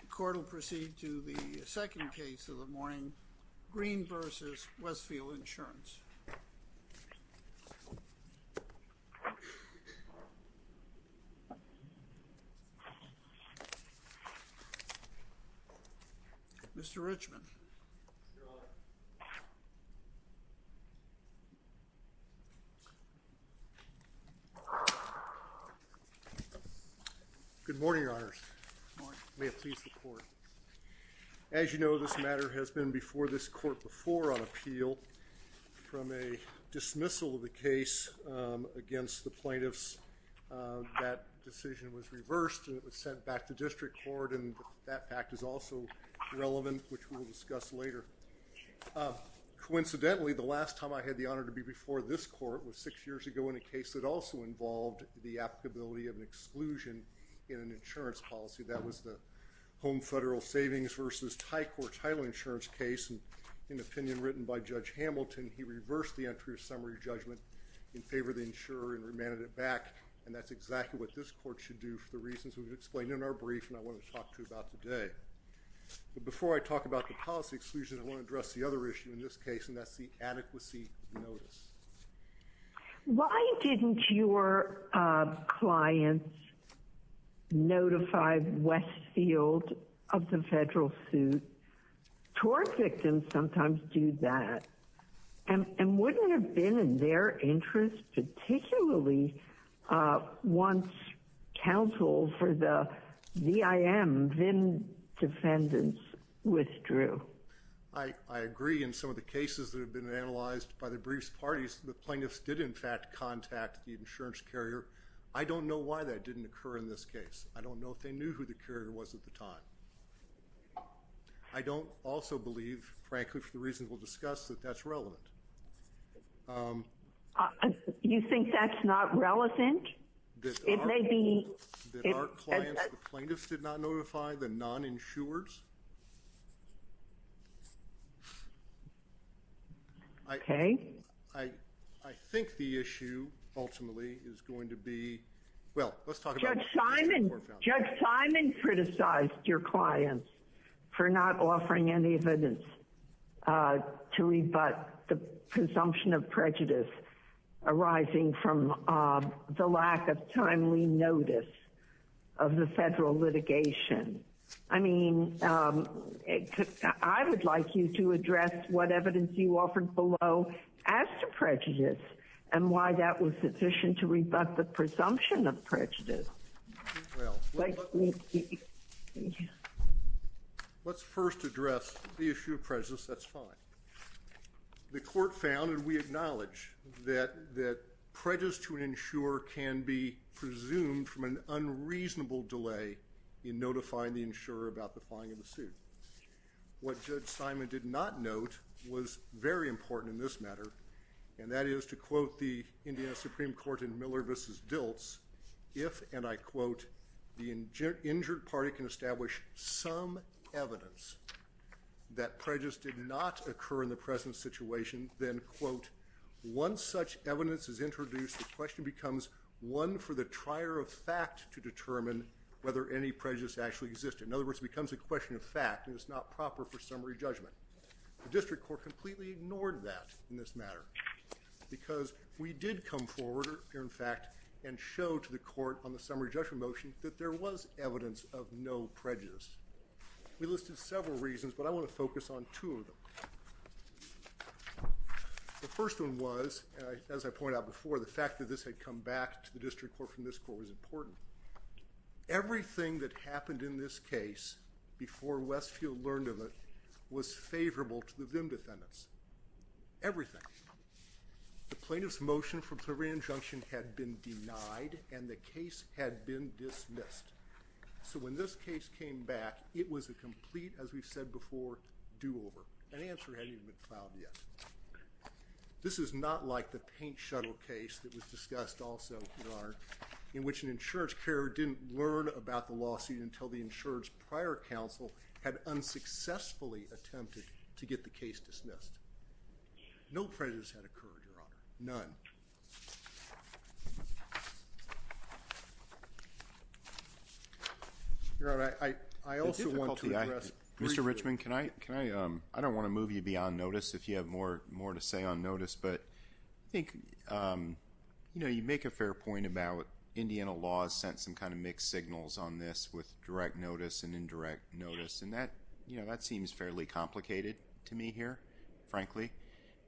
The court will proceed to the second case of the morning, Greene v. Westfield Insurance. Mr. Richmond. As you know, this matter has been before this court before on appeal. From a dismissal of the case against the plaintiffs, that decision was reversed, and it was sent back to district court, and that fact is also relevant, which we'll discuss later. Coincidentally, the last time I had the honor to be before this court was six years ago in a case that also involved the applicability of an exclusion in an insurance policy. That was the Home Federal Savings v. Thai Court title insurance case. In an opinion written by Judge Hamilton, he reversed the entry of summary judgment in favor of the insurer and remanded it back, and that's exactly what this court should do for the reasons we've explained in our brief and I want to talk to you about today. But before I talk about the policy exclusion, I want to address the other issue in this case, and that's the adequacy notice. Why didn't your clients notify Westfield of the federal suit? TOR victims sometimes do that, and wouldn't it have been in their interest, particularly once counsel for the VIM defendants withdrew? I agree. In some of the cases that have been analyzed by the briefs parties, the plaintiffs did in fact contact the insurance carrier. I don't know why that didn't occur in this case. I don't know if they knew who the carrier was at the time. I don't also believe, frankly, for the reasons we'll discuss, that that's relevant. You think that's not relevant? That our clients, the plaintiffs, did not notify the non-insurers? Okay. I think the issue, ultimately, is going to be... Judge Simon criticized your clients for not offering any evidence to rebut the presumption of prejudice arising from the lack of timely notice of the federal litigation. I mean, I would like you to address what evidence you offered below as to prejudice, and why that was sufficient to rebut the presumption of prejudice. Let's first address the issue of prejudice. That's fine. The court found, and we acknowledge, that prejudice to an insurer can be presumed from an unreasonable delay in notifying the insurer about the filing of the suit. What Judge Simon did not note was very important in this matter, and that is to quote the Indiana Supreme Court in Miller v. Diltz, if, and I quote, the injured party can establish some evidence that prejudice did not occur in the present situation, then, quote, once such evidence is introduced, the question becomes one for the trier of fact to determine whether any prejudice actually existed. In other words, it becomes a question of fact, and it's not proper for summary judgment. The district court completely ignored that in this matter, because we did come forward here, in fact, and show to the court on the summary judgment motion that there was evidence of no prejudice. We listed several reasons, but I want to focus on two of them. The first one was, as I pointed out before, the fact that this had come back to the district court from this court was important. Everything that happened in this case before Westfield learned of it was favorable to the VIM defendants, everything. The plaintiff's motion for probation injunction had been denied, and the case had been dismissed. So when this case came back, it was a complete, as we've said before, do-over. An answer hadn't even been filed yet. This is not like the Paint Shuttle case that was discussed also, Your Honor, in which an insurance carer didn't learn about the lawsuit until the insurance prior counsel had unsuccessfully attempted to get the case dismissed. No prejudice had occurred, Your Honor, none. Your Honor, I also want to address briefly. Congressman, I don't want to move you beyond notice if you have more to say on notice, but I think you make a fair point about Indiana law has sent some kind of mixed signals on this with direct notice and indirect notice, and that seems fairly complicated to me here, frankly.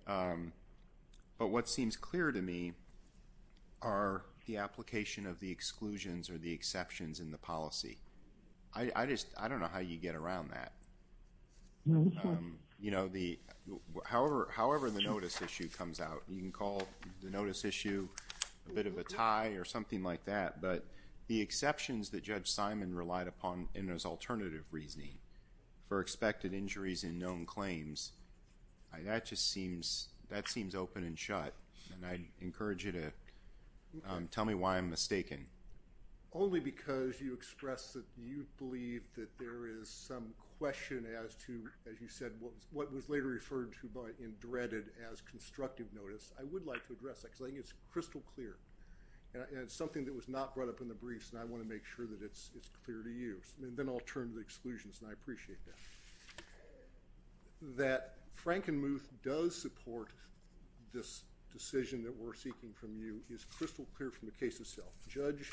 But what seems clear to me are the application of the exclusions or the exceptions in the policy. I just don't know how you get around that. However the notice issue comes out, you can call the notice issue a bit of a tie or something like that, but the exceptions that Judge Simon relied upon in his alternative reasoning for expected injuries in known claims, that just seems open and shut, and I encourage you to tell me why I'm mistaken. Only because you express that you believe that there is some question as to, as you said, what was later referred to by in dreaded as constructive notice. I would like to address that because I think it's crystal clear, and it's something that was not brought up in the briefs and I want to make sure that it's clear to you, and then I'll turn to the exclusions and I appreciate that. That Frankenmuth does support this decision that we're seeking from you is crystal clear from the case itself. Judge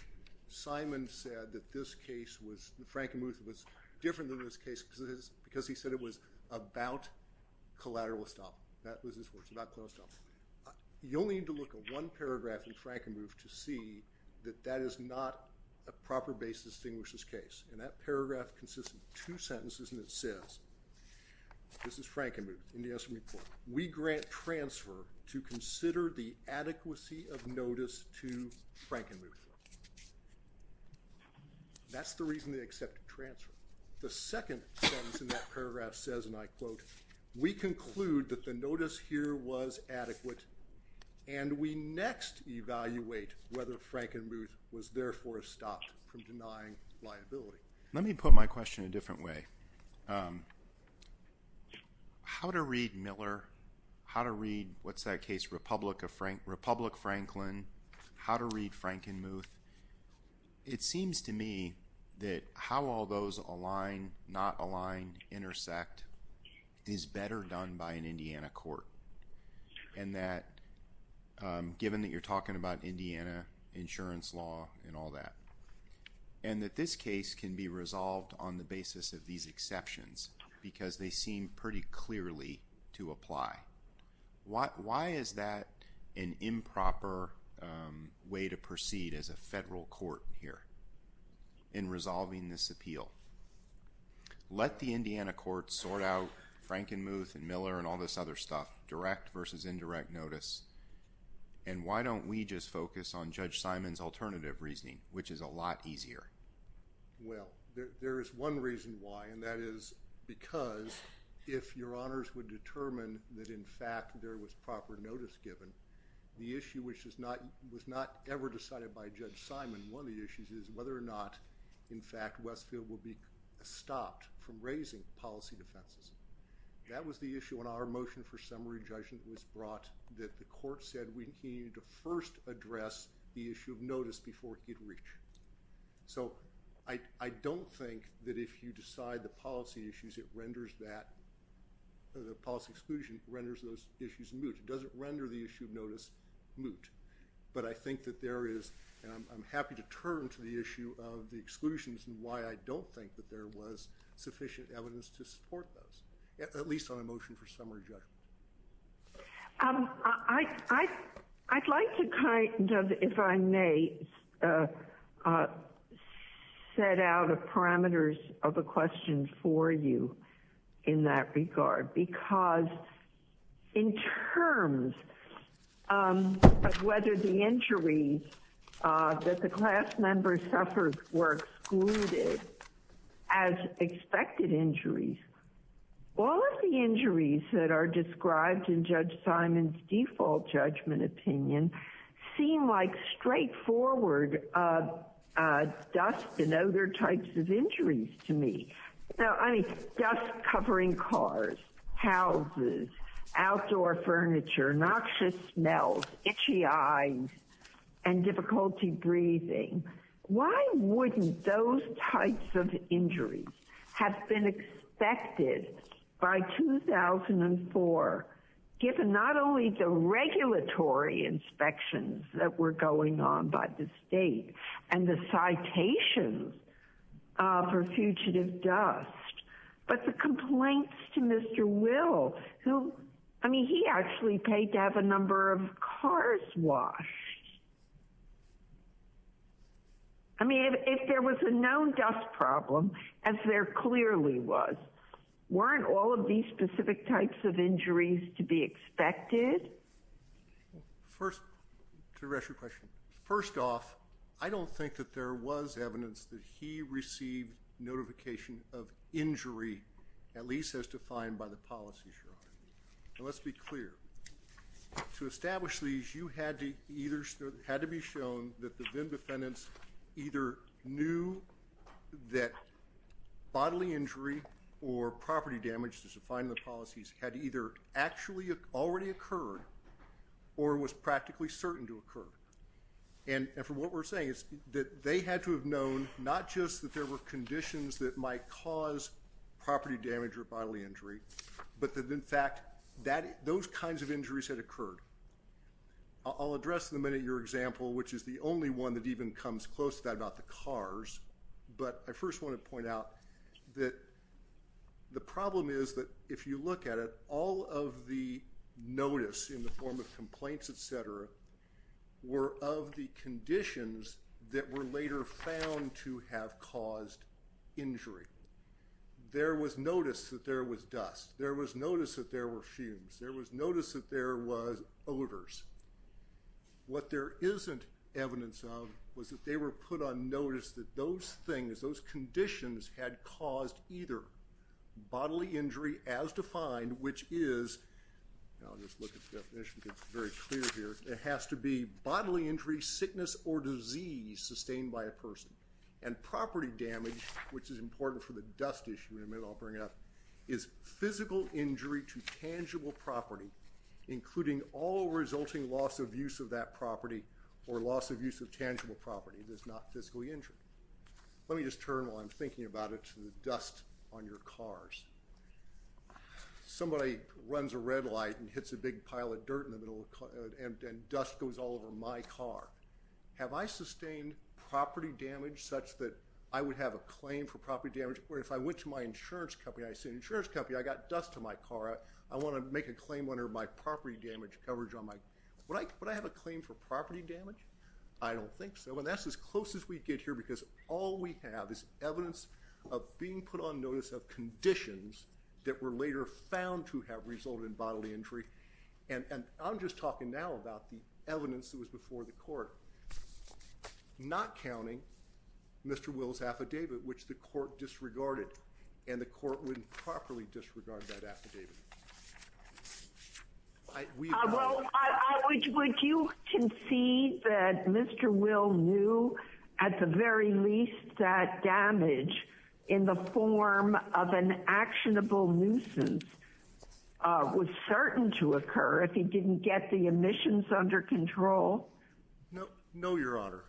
Simon said that this case was, that Frankenmuth was different than this case because he said it was about collateral estoppel. That was his words, about collateral estoppel. You'll need to look at one paragraph in Frankenmuth to see that that is not a proper basis to distinguish this case, and that paragraph consists of two sentences and it says, this is Frankenmuth in the estimate report, we grant transfer to consider the adequacy of notice to Frankenmuth. That's the reason they accepted transfer. The second sentence in that paragraph says, and I quote, we conclude that the notice here was adequate, and we next evaluate whether Frankenmuth was therefore stopped from denying liability. Let me put my question a different way. How to read Miller, how to read, what's that case, Republic Franklin, how to read Frankenmuth, it seems to me that how all those align, not align, intersect is better done by an Indiana court, and that given that you're talking about Indiana insurance law and all that, and that this case can be resolved on the basis of these exceptions because they seem pretty clearly to apply. Why is that an improper way to proceed as a federal court here in resolving this appeal? Let the Indiana court sort out Frankenmuth and Miller and all this other stuff, direct versus indirect notice, and why don't we just focus on Judge Simon's alternative reasoning, which is a lot easier? Well, there is one reason why, and that is because if your honors would determine that, in fact, there was proper notice given, the issue which was not ever decided by Judge Simon, one of the issues is whether or not, in fact, Westfield will be stopped from raising policy defenses. That was the issue when our motion for summary judgment was brought, that the court said we needed to first address the issue of notice before it could reach. So I don't think that if you decide the policy issues, it renders that, the policy exclusion renders those issues moot. It doesn't render the issue of notice moot. But I think that there is, and I'm happy to turn to the issue of the exclusions and why I don't think that there was sufficient evidence to support those, at least on a motion for summary judgment. I'd like to kind of, if I may, set out parameters of a question for you in that regard, because in terms of whether the injuries that the class members suffered were excluded as expected injuries, all of the injuries that are described in Judge Simon's default judgment opinion seem like straightforward dust and other types of injuries to me. Now, I mean, dust covering cars, houses, outdoor furniture, noxious smells, itchy eyes, and difficulty breathing. Why wouldn't those types of injuries have been expected by 2004, given not only the regulatory inspections that were going on by the state and the citations for fugitive dust, but the complaints to Mr. Will, who, I mean, he actually paid to have a number of cars washed. I mean, if there was a known dust problem, as there clearly was, weren't all of these specific types of injuries to be expected? First, to address your question. First off, I don't think that there was evidence that he received notification of injury, at least as defined by the policies you're on. Now, let's be clear. To establish these, you had to be shown that the VIN defendants either knew that bodily injury or property damage, as defined in the policies, had either actually already occurred or was practically certain to occur. And from what we're saying is that they had to have known not just that there were conditions that might cause property damage or bodily injury, but that, in fact, those kinds of injuries had occurred. I'll address in a minute your example, which is the only one that even comes close to that about the cars, but I first want to point out that the problem is that if you look at it, all of the notice in the form of complaints, et cetera, were of the conditions that were later found to have caused injury. There was notice that there was dust. There was notice that there were fumes. There was notice that there was odors. What there isn't evidence of was that they were put on notice that those things, those conditions, had caused either bodily injury as defined, which is, I'll just look at the definition because it's very clear here, it has to be bodily injury, sickness, or disease sustained by a person. And property damage, which is important for the dust issue in a minute, I'll bring it up, is physical injury to tangible property, including all resulting loss of use of that property or loss of use of tangible property that's not physically injured. Let me just turn, while I'm thinking about it, to the dust on your cars. Somebody runs a red light and hits a big pile of dirt in the middle and dust goes all over my car. Have I sustained property damage such that I would have a claim for property damage where if I went to my insurance company, I say, insurance company, I got dust on my car, I want to make a claim under my property damage coverage on my car. Would I have a claim for property damage? I don't think so. And that's as close as we get here because all we have is evidence of being put on notice of conditions that were later found to have resulted in bodily injury. And I'm just talking now about the evidence that was before the court, not counting Mr. Will's affidavit, which the court disregarded, and the court wouldn't properly disregard that affidavit. Well, would you concede that Mr. Will knew, at the very least, that damage in the form of an actionable nuisance was certain to occur if he didn't get the emissions under control? No, Your Honor.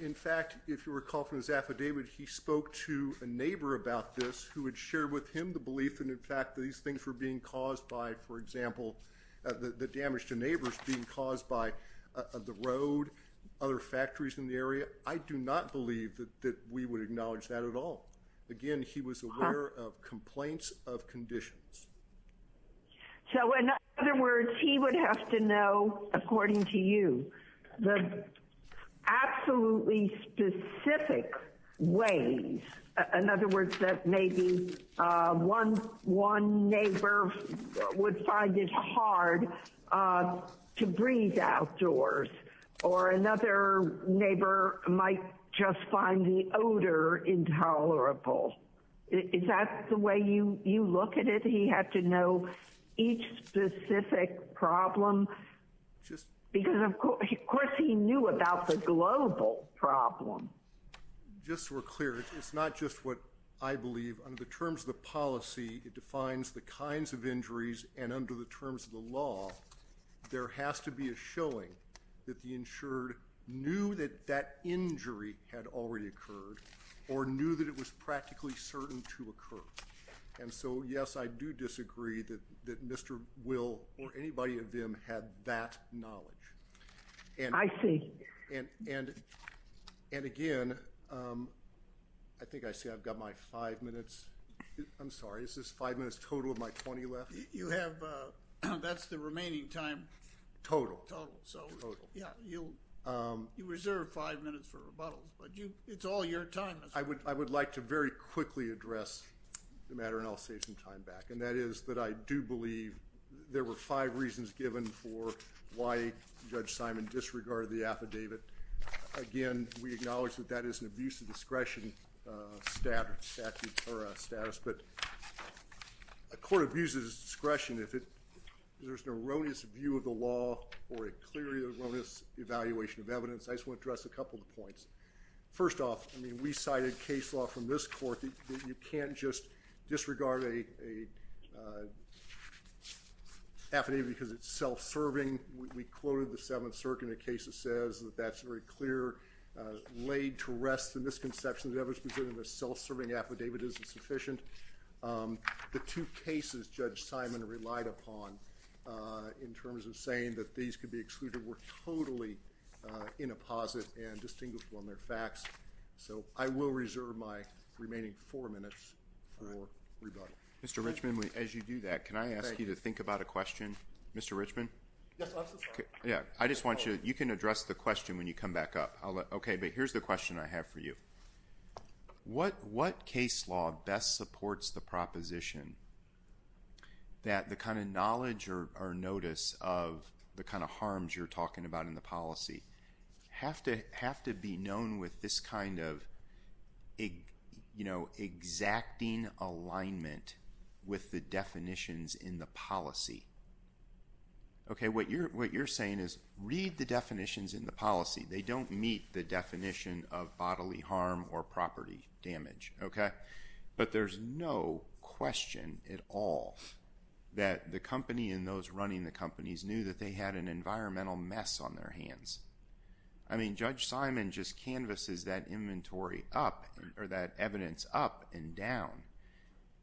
In fact, if you recall from his affidavit, he spoke to a neighbor about this who had shared with him the belief that, in fact, these things were being caused by, for example, the damage to neighbors being caused by the road, other factories in the area. I do not believe that we would acknowledge that at all. Again, he was aware of complaints of conditions. So, in other words, he would have to know, according to you, the absolutely specific ways, in other words, that maybe one neighbor would find it hard to breathe outdoors or another neighbor might just find the odor intolerable. Is that the way you look at it? He had to know each specific problem because, of course, he knew about the global problem. Just so we're clear, it's not just what I believe. Under the terms of the policy, it defines the kinds of injuries, and under the terms of the law, there has to be a showing that the insured knew that that injury had already occurred or knew that it was practically certain to occur. So, yes, I do disagree that Mr. Will or anybody of them had that knowledge. I see. Again, I think I see I've got my five minutes. I'm sorry, is this five minutes total of my 20 left? That's the remaining time. Total. Total. You reserved five minutes for rebuttal, but it's all your time. I would like to very quickly address the matter, and I'll save some time back, and that is that I do believe there were five reasons given for why Judge Simon disregarded the affidavit. Again, we acknowledge that that is an abuse of discretion status, but a court abuses discretion if there's an erroneous view of the law or a clear erroneous evaluation of evidence. I just want to address a couple of points. First off, I mean, we cited case law from this court that you can't just disregard an affidavit because it's self-serving. We quoted the Seventh Circuit in a case that says that that's very clear. Laid to rest the misconception that evidence presented in a self-serving affidavit isn't sufficient. The two cases Judge Simon relied upon in terms of saying that these could be excluded were totally in a posit and distinguishable in their facts, so I will reserve my remaining four minutes for rebuttal. Mr. Richman, as you do that, can I ask you to think about a question? Mr. Richman? Yes, I'm so sorry. I just want you to address the question when you come back up. Okay, but here's the question I have for you. What case law best supports the proposition that the kind of knowledge or notice of the kind of harms you're talking about in the policy have to be known with this kind of exacting alignment with the definitions in the policy? Okay, what you're saying is read the definitions in the policy. They don't meet the definition of bodily harm or property damage, okay? But there's no question at all that the company and those running the companies knew that they had an environmental mess on their hands. I mean, Judge Simon just canvasses that inventory up or that evidence up and down,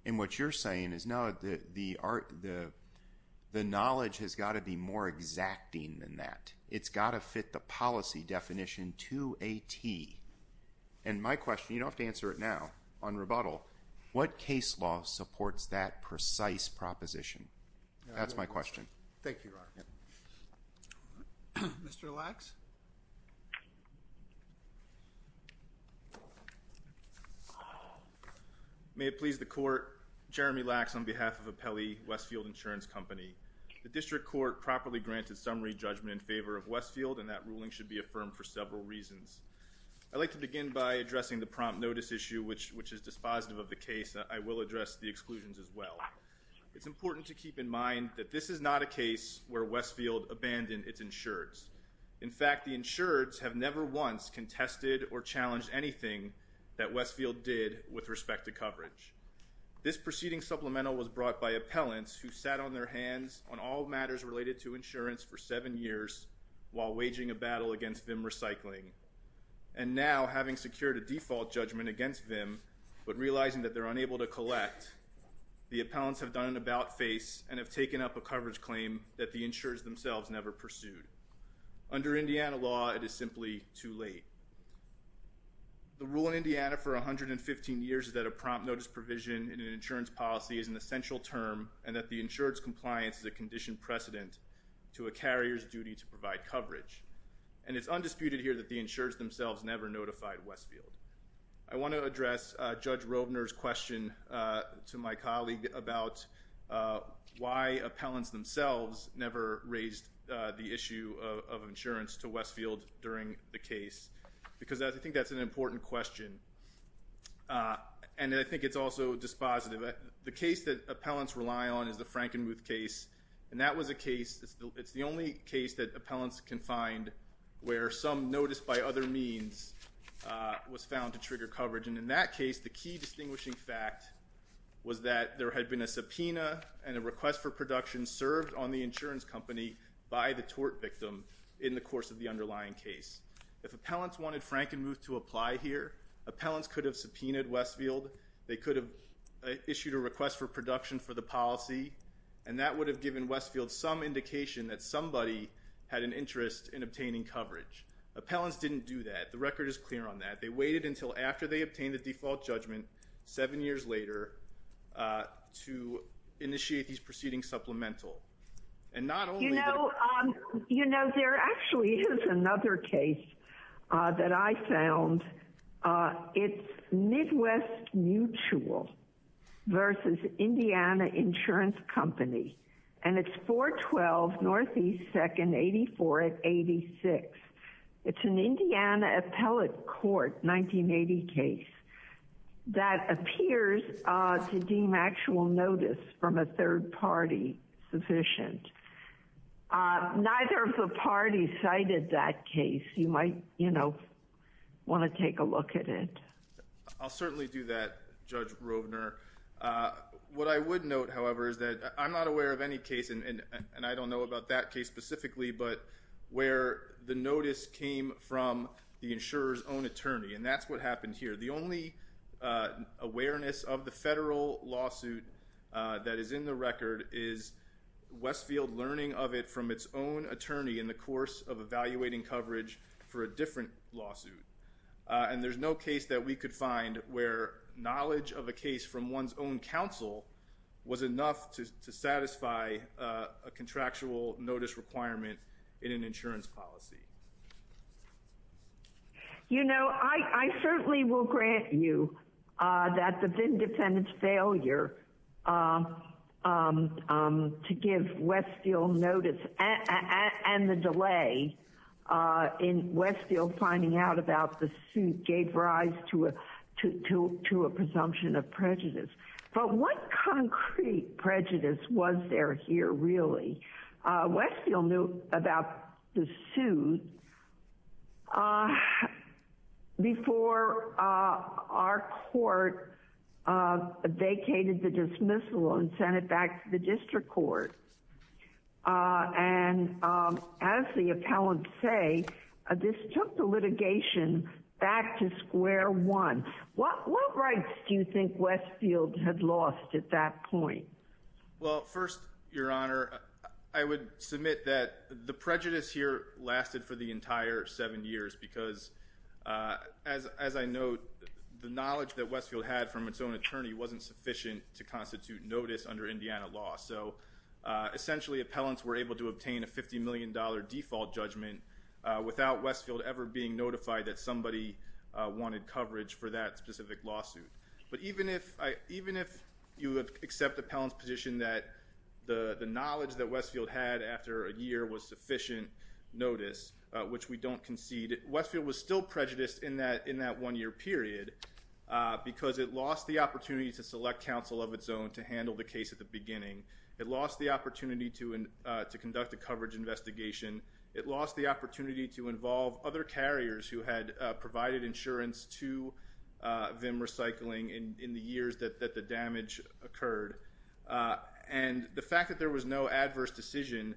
and what you're saying is, no, the knowledge has got to be more exacting than that. It's got to fit the policy definition to a T. And my question, you don't have to answer it now on rebuttal, what case law supports that precise proposition? That's my question. Thank you, Your Honor. Mr. Lacks? May it please the Court, Jeremy Lacks on behalf of Apelli Westfield Insurance Company. The district court properly granted summary judgment in favor of Westfield, and that ruling should be affirmed for several reasons. I'd like to begin by addressing the prompt notice issue, which is dispositive of the case. I will address the exclusions as well. It's important to keep in mind that this is not a case where Westfield abandoned its insureds. In fact, the insureds have never once contested or challenged anything that Westfield did with respect to coverage. This proceeding supplemental was brought by appellants who sat on their hands on all matters related to insurance for seven years, while waging a battle against VIM recycling. And now, having secured a default judgment against VIM, but realizing that they're unable to collect, the appellants have done an about-face and have taken up a coverage claim that the insurers themselves never pursued. Under Indiana law, it is simply too late. The rule in Indiana for 115 years is that a prompt notice provision in an insurance policy is an essential term and that the insured's compliance is a conditioned precedent to a carrier's duty to provide coverage. And it's undisputed here that the insureds themselves never notified Westfield. I want to address Judge Rovner's question to my colleague about why appellants themselves never raised the issue of insurance to Westfield during the case, because I think that's an important question, and I think it's also dispositive. The case that appellants rely on is the Frankenmuth case, and that was a case, it's the only case that appellants can find where some notice by other means was found to trigger coverage. And in that case, the key distinguishing fact was that there had been a subpoena and a request for production served on the insurance company by the tort victim in the course of the underlying case. If appellants wanted Frankenmuth to apply here, appellants could have subpoenaed Westfield. They could have issued a request for production for the policy, and that would have given Westfield some indication that somebody had an interest in obtaining coverage. Appellants didn't do that. The record is clear on that. They waited until after they obtained the default judgment seven years later to initiate these proceedings supplemental. You know, there actually is another case that I found. It's Midwest Mutual versus Indiana Insurance Company, and it's 412 Northeast 2nd 84 at 86. It's an Indiana appellate court 1980 case that appears to deem actual notice from a third party sufficient. Neither of the parties cited that case. You might, you know, want to take a look at it. I'll certainly do that, Judge Rovner. What I would note, however, is that I'm not aware of any case, and I don't know about that case specifically, but where the notice came from the insurer's own attorney. And that's what happened here. The only awareness of the federal lawsuit that is in the record is Westfield learning of it from its own attorney in the course of evaluating coverage for a different lawsuit. And there's no case that we could find where knowledge of a case from one's own counsel was enough to satisfy a contractual notice requirement in an insurance policy. You know, I certainly will grant you that the VIN defendant's failure to give Westfield notice and the delay in Westfield finding out about the suit gave rise to a presumption of prejudice. But what concrete prejudice was there here, really? Westfield knew about the suit before our court vacated the dismissal and sent it back to the district court. And as the appellants say, this took the litigation back to square one. What rights do you think Westfield had lost at that point? Well, first, Your Honor, I would submit that the prejudice here lasted for the entire seven years because, as I note, the knowledge that Westfield had from its own attorney wasn't sufficient to constitute notice under Indiana law. So essentially appellants were able to obtain a $50 million default judgment without Westfield ever being notified that somebody wanted coverage for that specific lawsuit. But even if you accept the appellant's position that the knowledge that Westfield had after a year was sufficient notice, which we don't concede, Westfield was still prejudiced in that one-year period because it lost the opportunity to select counsel of its own to handle the case at the beginning. It lost the opportunity to conduct a coverage investigation. It lost the opportunity to involve other carriers who had provided insurance to VIM Recycling in the years that the damage occurred. And the fact that there was no adverse decision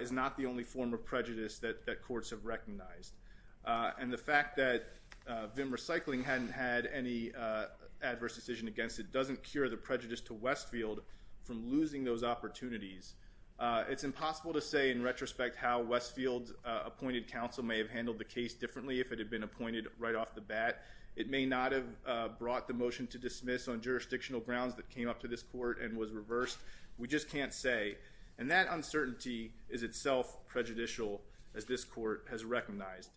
is not the only form of prejudice that courts have recognized. And the fact that VIM Recycling hadn't had any adverse decision against it doesn't cure the prejudice to Westfield from losing those opportunities. It's impossible to say in retrospect how Westfield's appointed counsel may have handled the case differently if it had been appointed right off the bat. It may not have brought the motion to dismiss on jurisdictional grounds that came up to this court and was reversed. We just can't say. And that uncertainty is itself prejudicial as this court has recognized.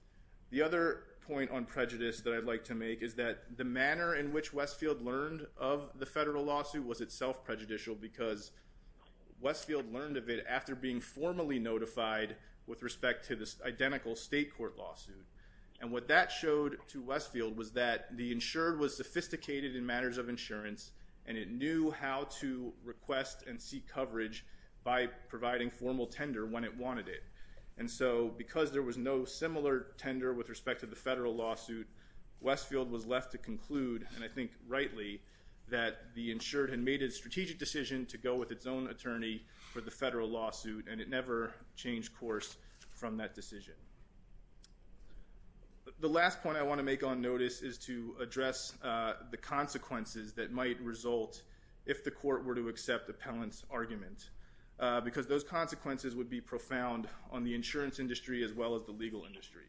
The other point on prejudice that I'd like to make is that the manner in which Westfield learned of the federal lawsuit was itself prejudicial because Westfield learned of it after being formally notified with respect to this identical state court lawsuit. And what that showed to Westfield was that the insured was sophisticated in matters of insurance and it knew how to request and seek coverage by providing formal tender when it wanted it. And so because there was no similar tender with respect to the federal lawsuit, Westfield was left to conclude, and I think rightly, that the insured had made a strategic decision to go with its own attorney for the federal lawsuit and it never changed course from that decision. The last point I want to make on notice is to address the consequences that might result if the court were to accept appellant's argument because those consequences would be profound on the insurance industry as well as the legal industry.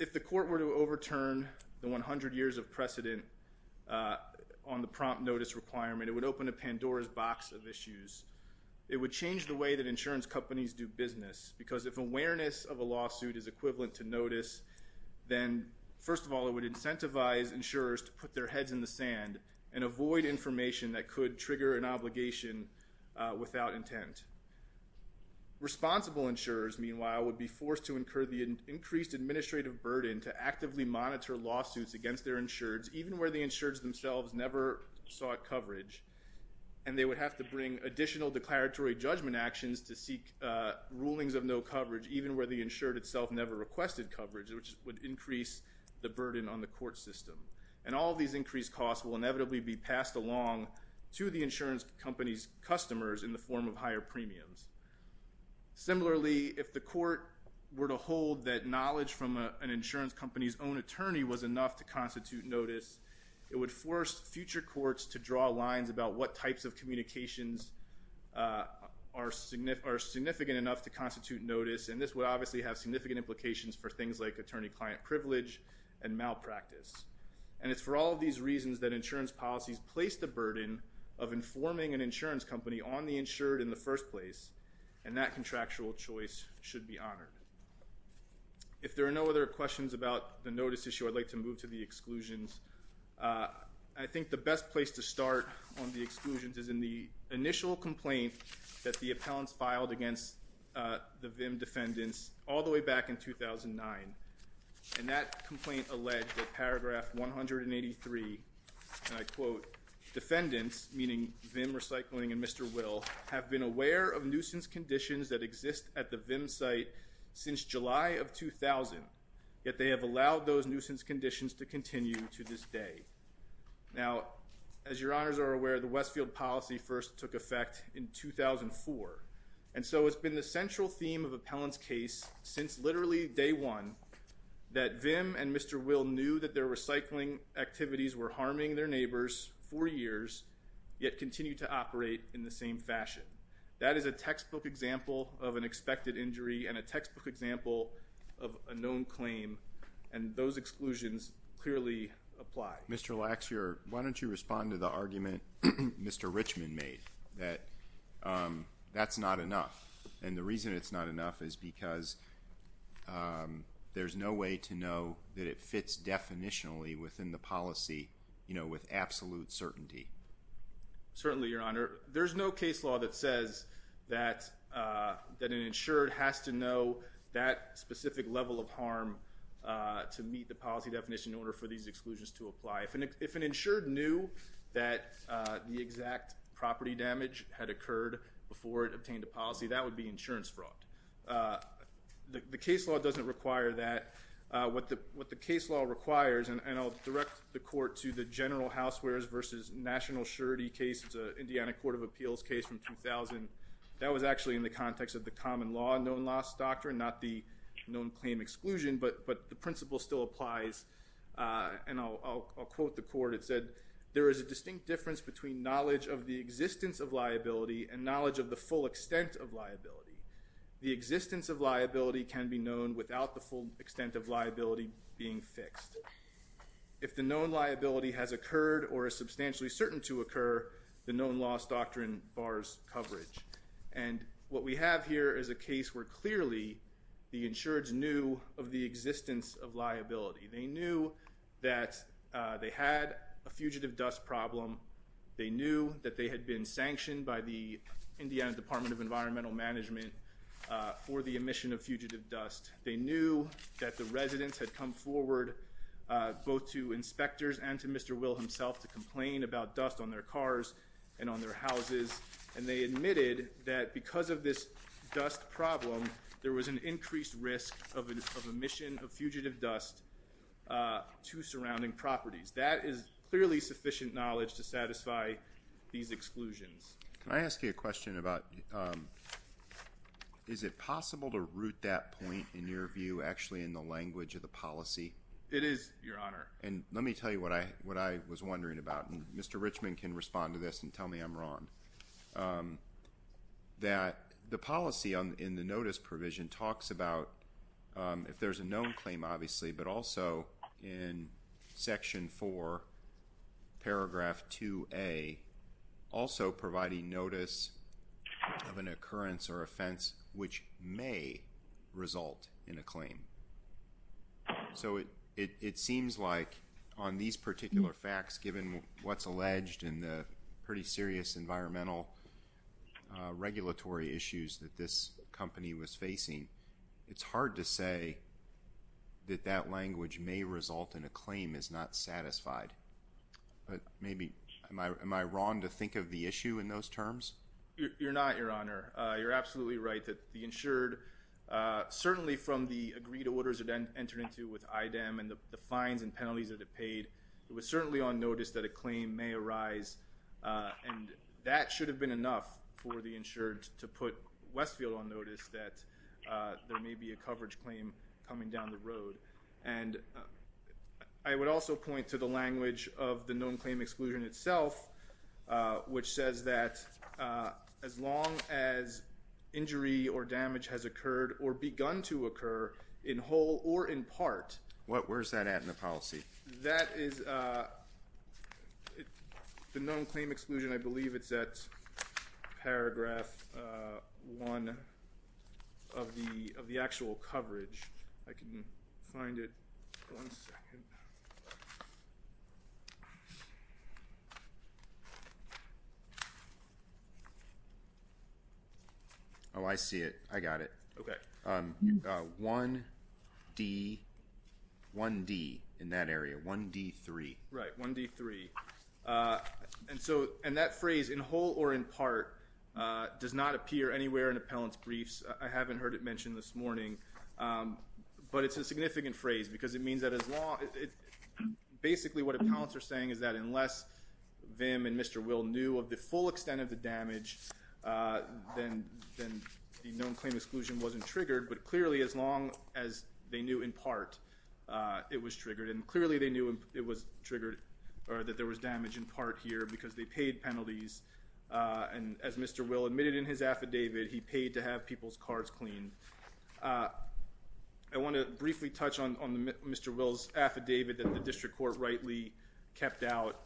If the court were to overturn the 100 years of precedent on the prompt notice requirement, it would open a Pandora's box of issues. It would change the way that insurance companies do business because if awareness of a lawsuit is equivalent to notice, then first of all it would incentivize insurers to put their heads in the sand and avoid information that could trigger an obligation without intent. Responsible insurers, meanwhile, would be forced to incur the increased administrative burden to actively monitor lawsuits against their insureds even where the insureds themselves never sought coverage and they would have to bring additional declaratory judgment actions to seek rulings of no coverage even where the insured itself never requested coverage, which would increase the burden on the court system. And all these increased costs will inevitably be passed along to the insurance company's customers in the form of higher premiums. Similarly, if the court were to hold that knowledge from an insurance company's own attorney was enough to constitute notice, it would force future courts to draw lines about what types of communications are significant enough to constitute notice, and this would obviously have significant implications for things like attorney-client privilege and malpractice. And it's for all of these reasons that insurance policies place the burden of informing an insurance company on the insured in the first place, and that contractual choice should be honored. If there are no other questions about the notice issue, I'd like to move to the exclusions. I think the best place to start on the exclusions is in the initial complaint that the appellants filed against the VIM defendants all the way back in 2009, and that complaint alleged that paragraph 183, and I quote, defendants, meaning VIM Recycling and Mr. Will, have been aware of nuisance conditions that exist at the VIM site since July of 2000, yet they have allowed those nuisance conditions to continue to this day. Now, as your honors are aware, the Westfield policy first took effect in 2004, and so it's been the central theme of appellant's case since literally day one that VIM and Mr. Will knew that their recycling activities were harming their neighbors for years, yet continue to operate in the same fashion. That is a textbook example of an expected injury and a textbook example of a known claim, and those exclusions clearly apply. Mr. Lax, why don't you respond to the argument Mr. Richman made that that's not enough, and the reason it's not enough is because there's no way to know that it fits definitionally within the policy with absolute certainty. Certainly, your honor. There's no case law that says that an insured has to know that specific level of harm to meet the policy definition in order for these exclusions to apply. If an insured knew that the exact property damage had occurred before it obtained a policy, that would be insurance fraud. The case law doesn't require that. What the case law requires, and I'll direct the court to the general housewares versus national surety case. It's an Indiana Court of Appeals case from 2000. That was actually in the context of the common law known loss doctrine, not the known claim exclusion, but the principle still applies, and I'll quote the court. It said, there is a distinct difference between knowledge of the existence of liability and knowledge of the full extent of liability. The existence of liability can be known without the full extent of liability being fixed. If the known liability has occurred or is substantially certain to occur, the known loss doctrine bars coverage, and what we have here is a case where clearly the insureds knew of the existence of liability. They knew that they had a fugitive dust problem. They knew that they had been sanctioned by the Indiana Department of Environmental Management for the emission of fugitive dust. They knew that the residents had come forward, both to inspectors and to Mr. Will himself, to complain about dust on their cars and on their houses, and they admitted that because of this dust problem, there was an increased risk of emission of fugitive dust to surrounding properties. That is clearly sufficient knowledge to satisfy these exclusions. Can I ask you a question about is it possible to root that point, in your view, actually in the language of the policy? It is, Your Honor. And let me tell you what I was wondering about, and Mr. Richman can respond to this and tell me I'm wrong, that the policy in the notice provision talks about if there's a known claim, obviously, but also in Section 4, Paragraph 2A, also providing notice of an occurrence or offense which may result in a claim. So it seems like on these particular facts, given what's alleged in the pretty serious environmental regulatory issues that this company was facing, it's hard to say that that language may result in a claim is not satisfied. But maybe am I wrong to think of the issue in those terms? You're not, Your Honor. You're absolutely right that the insured, certainly from the agreed orders it entered into with IDEM and the fines and penalties that it paid, it was certainly on notice that a claim may arise, and that should have been enough for the insured to put Westfield on notice that there may be a coverage claim coming down the road. And I would also point to the language of the known claim exclusion itself, which says that as long as injury or damage has occurred or begun to occur in whole or in part. Where's that at in the policy? That is the known claim exclusion. I believe it's at Paragraph 1 of the actual coverage. I can find it. One second. Oh, I see it. I got it. Okay. 1D, 1D in that area, 1D3. Right, 1D3. And that phrase, in whole or in part, does not appear anywhere in appellant's briefs. I haven't heard it mentioned this morning, but it's a significant phrase because it means that as long as ‑‑ basically what appellants are saying is that unless VIM and Mr. Will knew of the full extent of the damage, then the known claim exclusion wasn't triggered. But clearly as long as they knew in part it was triggered, and clearly they knew it was triggered or that there was damage in part here because they paid penalties. And as Mr. Will admitted in his affidavit, he paid to have people's cards cleaned. I want to briefly touch on Mr. Will's affidavit that the district court rightly kept out.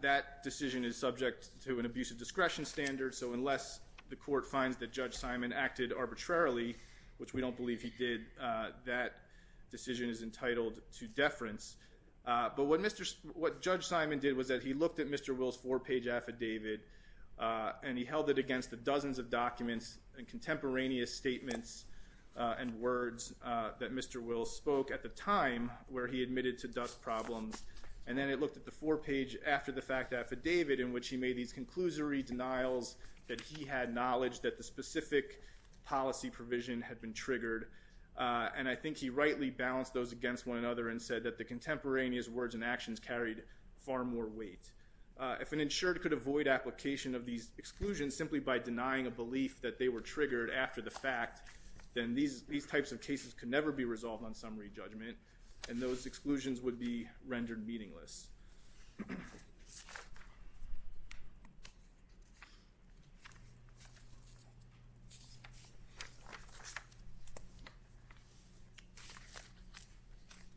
That decision is subject to an abusive discretion standard, so unless the court finds that Judge Simon acted arbitrarily, which we don't believe he did, that decision is entitled to deference. But what Judge Simon did was that he looked at Mr. Will's four‑page affidavit and he held it against the dozens of documents and contemporaneous statements and words that Mr. Will spoke at the time where he admitted to dust problems. And then it looked at the four‑page after‑the‑fact affidavit in which he made these conclusory denials that he had knowledge that the specific policy provision had been triggered. And I think he rightly balanced those against one another and said that the contemporaneous words and actions carried far more weight. If an insured could avoid application of these exclusions simply by denying a belief that they were triggered after the fact, then these types of cases could never be resolved on summary judgment, and those exclusions would be rendered meaningless.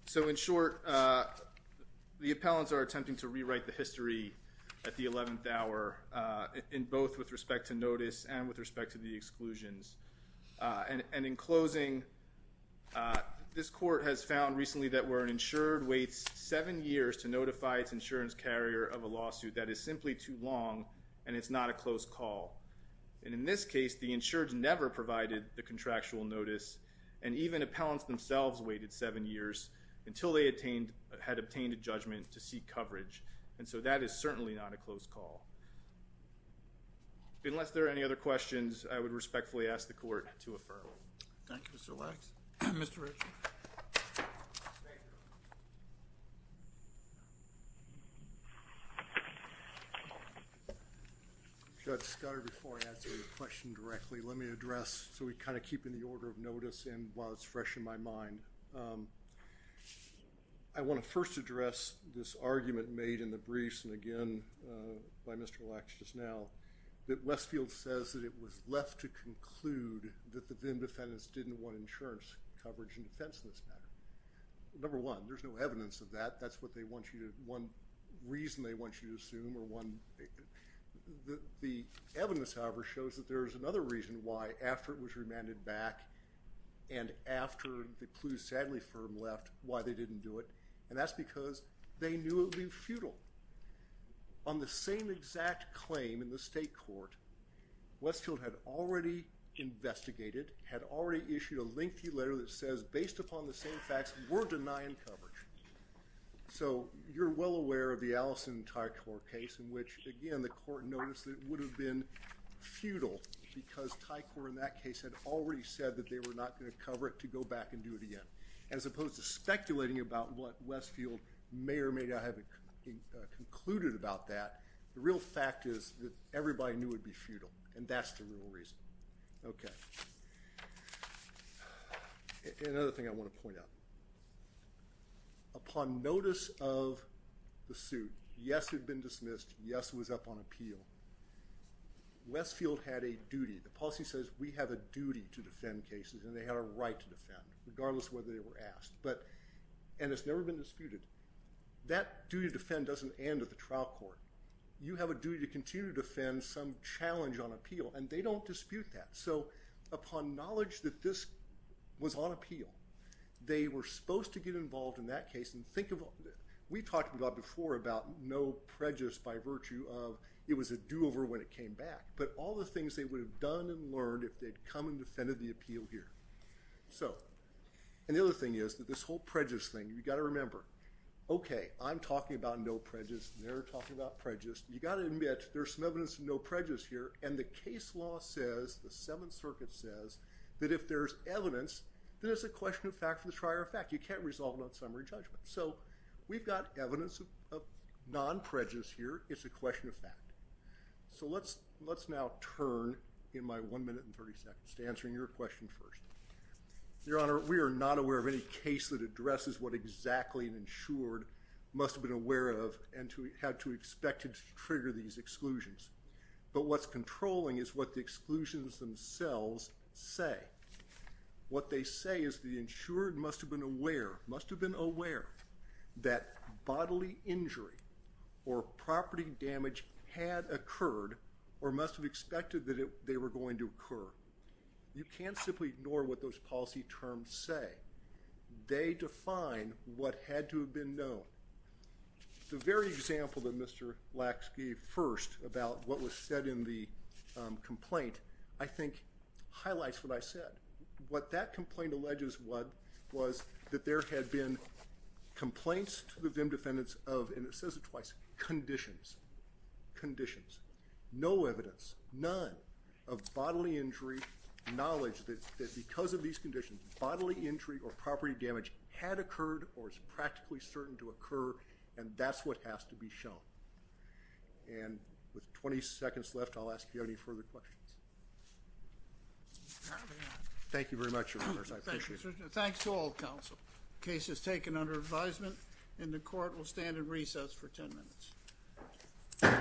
So in short, the appellants are attempting to rewrite the history at the 11th hour in both with respect to notice and with respect to the exclusions. And in closing, this court has found recently that where an insured waits seven years to notify its insurance carrier of a lawsuit, that is simply too long and it's not a close call. And in this case, the insured never provided the contractual notice and even appellants themselves waited seven years until they had obtained a judgment to seek coverage. And so that is certainly not a close call. Unless there are any other questions, I would respectfully ask the court to affirm. Thank you, Mr. Lacks. Mr. Ritchie. Judge Scudder, before I answer your question directly, let me address, so we kind of keep in the order of notice and while it's fresh in my mind, I want to first address this argument made in the briefs, and again by Mr. Lacks just now, that Westfield says that it was left to conclude that the VIM defendants didn't want insurance coverage in defense of this matter. Number one, there's no evidence of that. That's what they want you to, one reason they want you to assume or one, the evidence, however, shows that there is another reason why, after it was remanded back and after the clues sadly firm left, why they didn't do it, and that's because they knew it would be futile. On the same exact claim in the state court, Westfield had already investigated, had already issued a lengthy letter that says, based upon the same facts, we're denying coverage. So you're well aware of the Allison-Tycor case in which, again, the court noticed that it would have been futile because Tycor in that case had already said that they were not going to cover it to go back and do it again. As opposed to speculating about what Westfield may or may not have concluded about that, the real fact is that everybody knew it would be futile, and that's the real reason. Another thing I want to point out. Upon notice of the suit, yes, it had been dismissed. Yes, it was up on appeal. Westfield had a duty. The policy says we have a duty to defend cases, and they had a right to defend, regardless of whether they were asked, and it's never been disputed. That duty to defend doesn't end at the trial court. You have a duty to continue to defend some challenge on appeal, and they don't dispute that. So upon knowledge that this was on appeal, they were supposed to get involved in that case. We talked before about no prejudice by virtue of it was a do-over when it came back, but all the things they would have done and learned if they'd come and defended the appeal here. The other thing is that this whole prejudice thing, you've got to remember, okay, I'm talking about no prejudice, they're talking about prejudice. You've got to admit there's some evidence of no prejudice here, and the case law says, the Seventh Circuit says, that if there's evidence, then it's a question of fact for the trier of fact. You can't resolve it on summary judgment. So we've got evidence of non-prejudice here. It's a question of fact. So let's now turn in my one minute and 30 seconds to answering your question first. Your Honor, we are not aware of any case that addresses what exactly an insured must have been aware of and had to expect to trigger these exclusions. But what's controlling is what the exclusions themselves say. What they say is the insured must have been aware, must have been aware, that bodily injury or property damage had occurred or must have expected that they were going to occur. You can't simply ignore what those policy terms say. They define what had to have been known. The very example that Mr. Lacks gave first about what was said in the complaint, I think, highlights what I said. What that complaint alleges was that there had been complaints to the VIM defendants of, and it says it twice, conditions. Conditions. No evidence, none, of bodily injury, knowledge that because of these conditions, bodily injury or property damage had occurred or is practically certain to occur, and that's what has to be shown. And with 20 seconds left, I'll ask you any further questions. Apparently not. Thank you very much, Your Honors. I appreciate it. Thanks to all counsel. Case is taken under advisement, and the court will stand in recess for 10 minutes.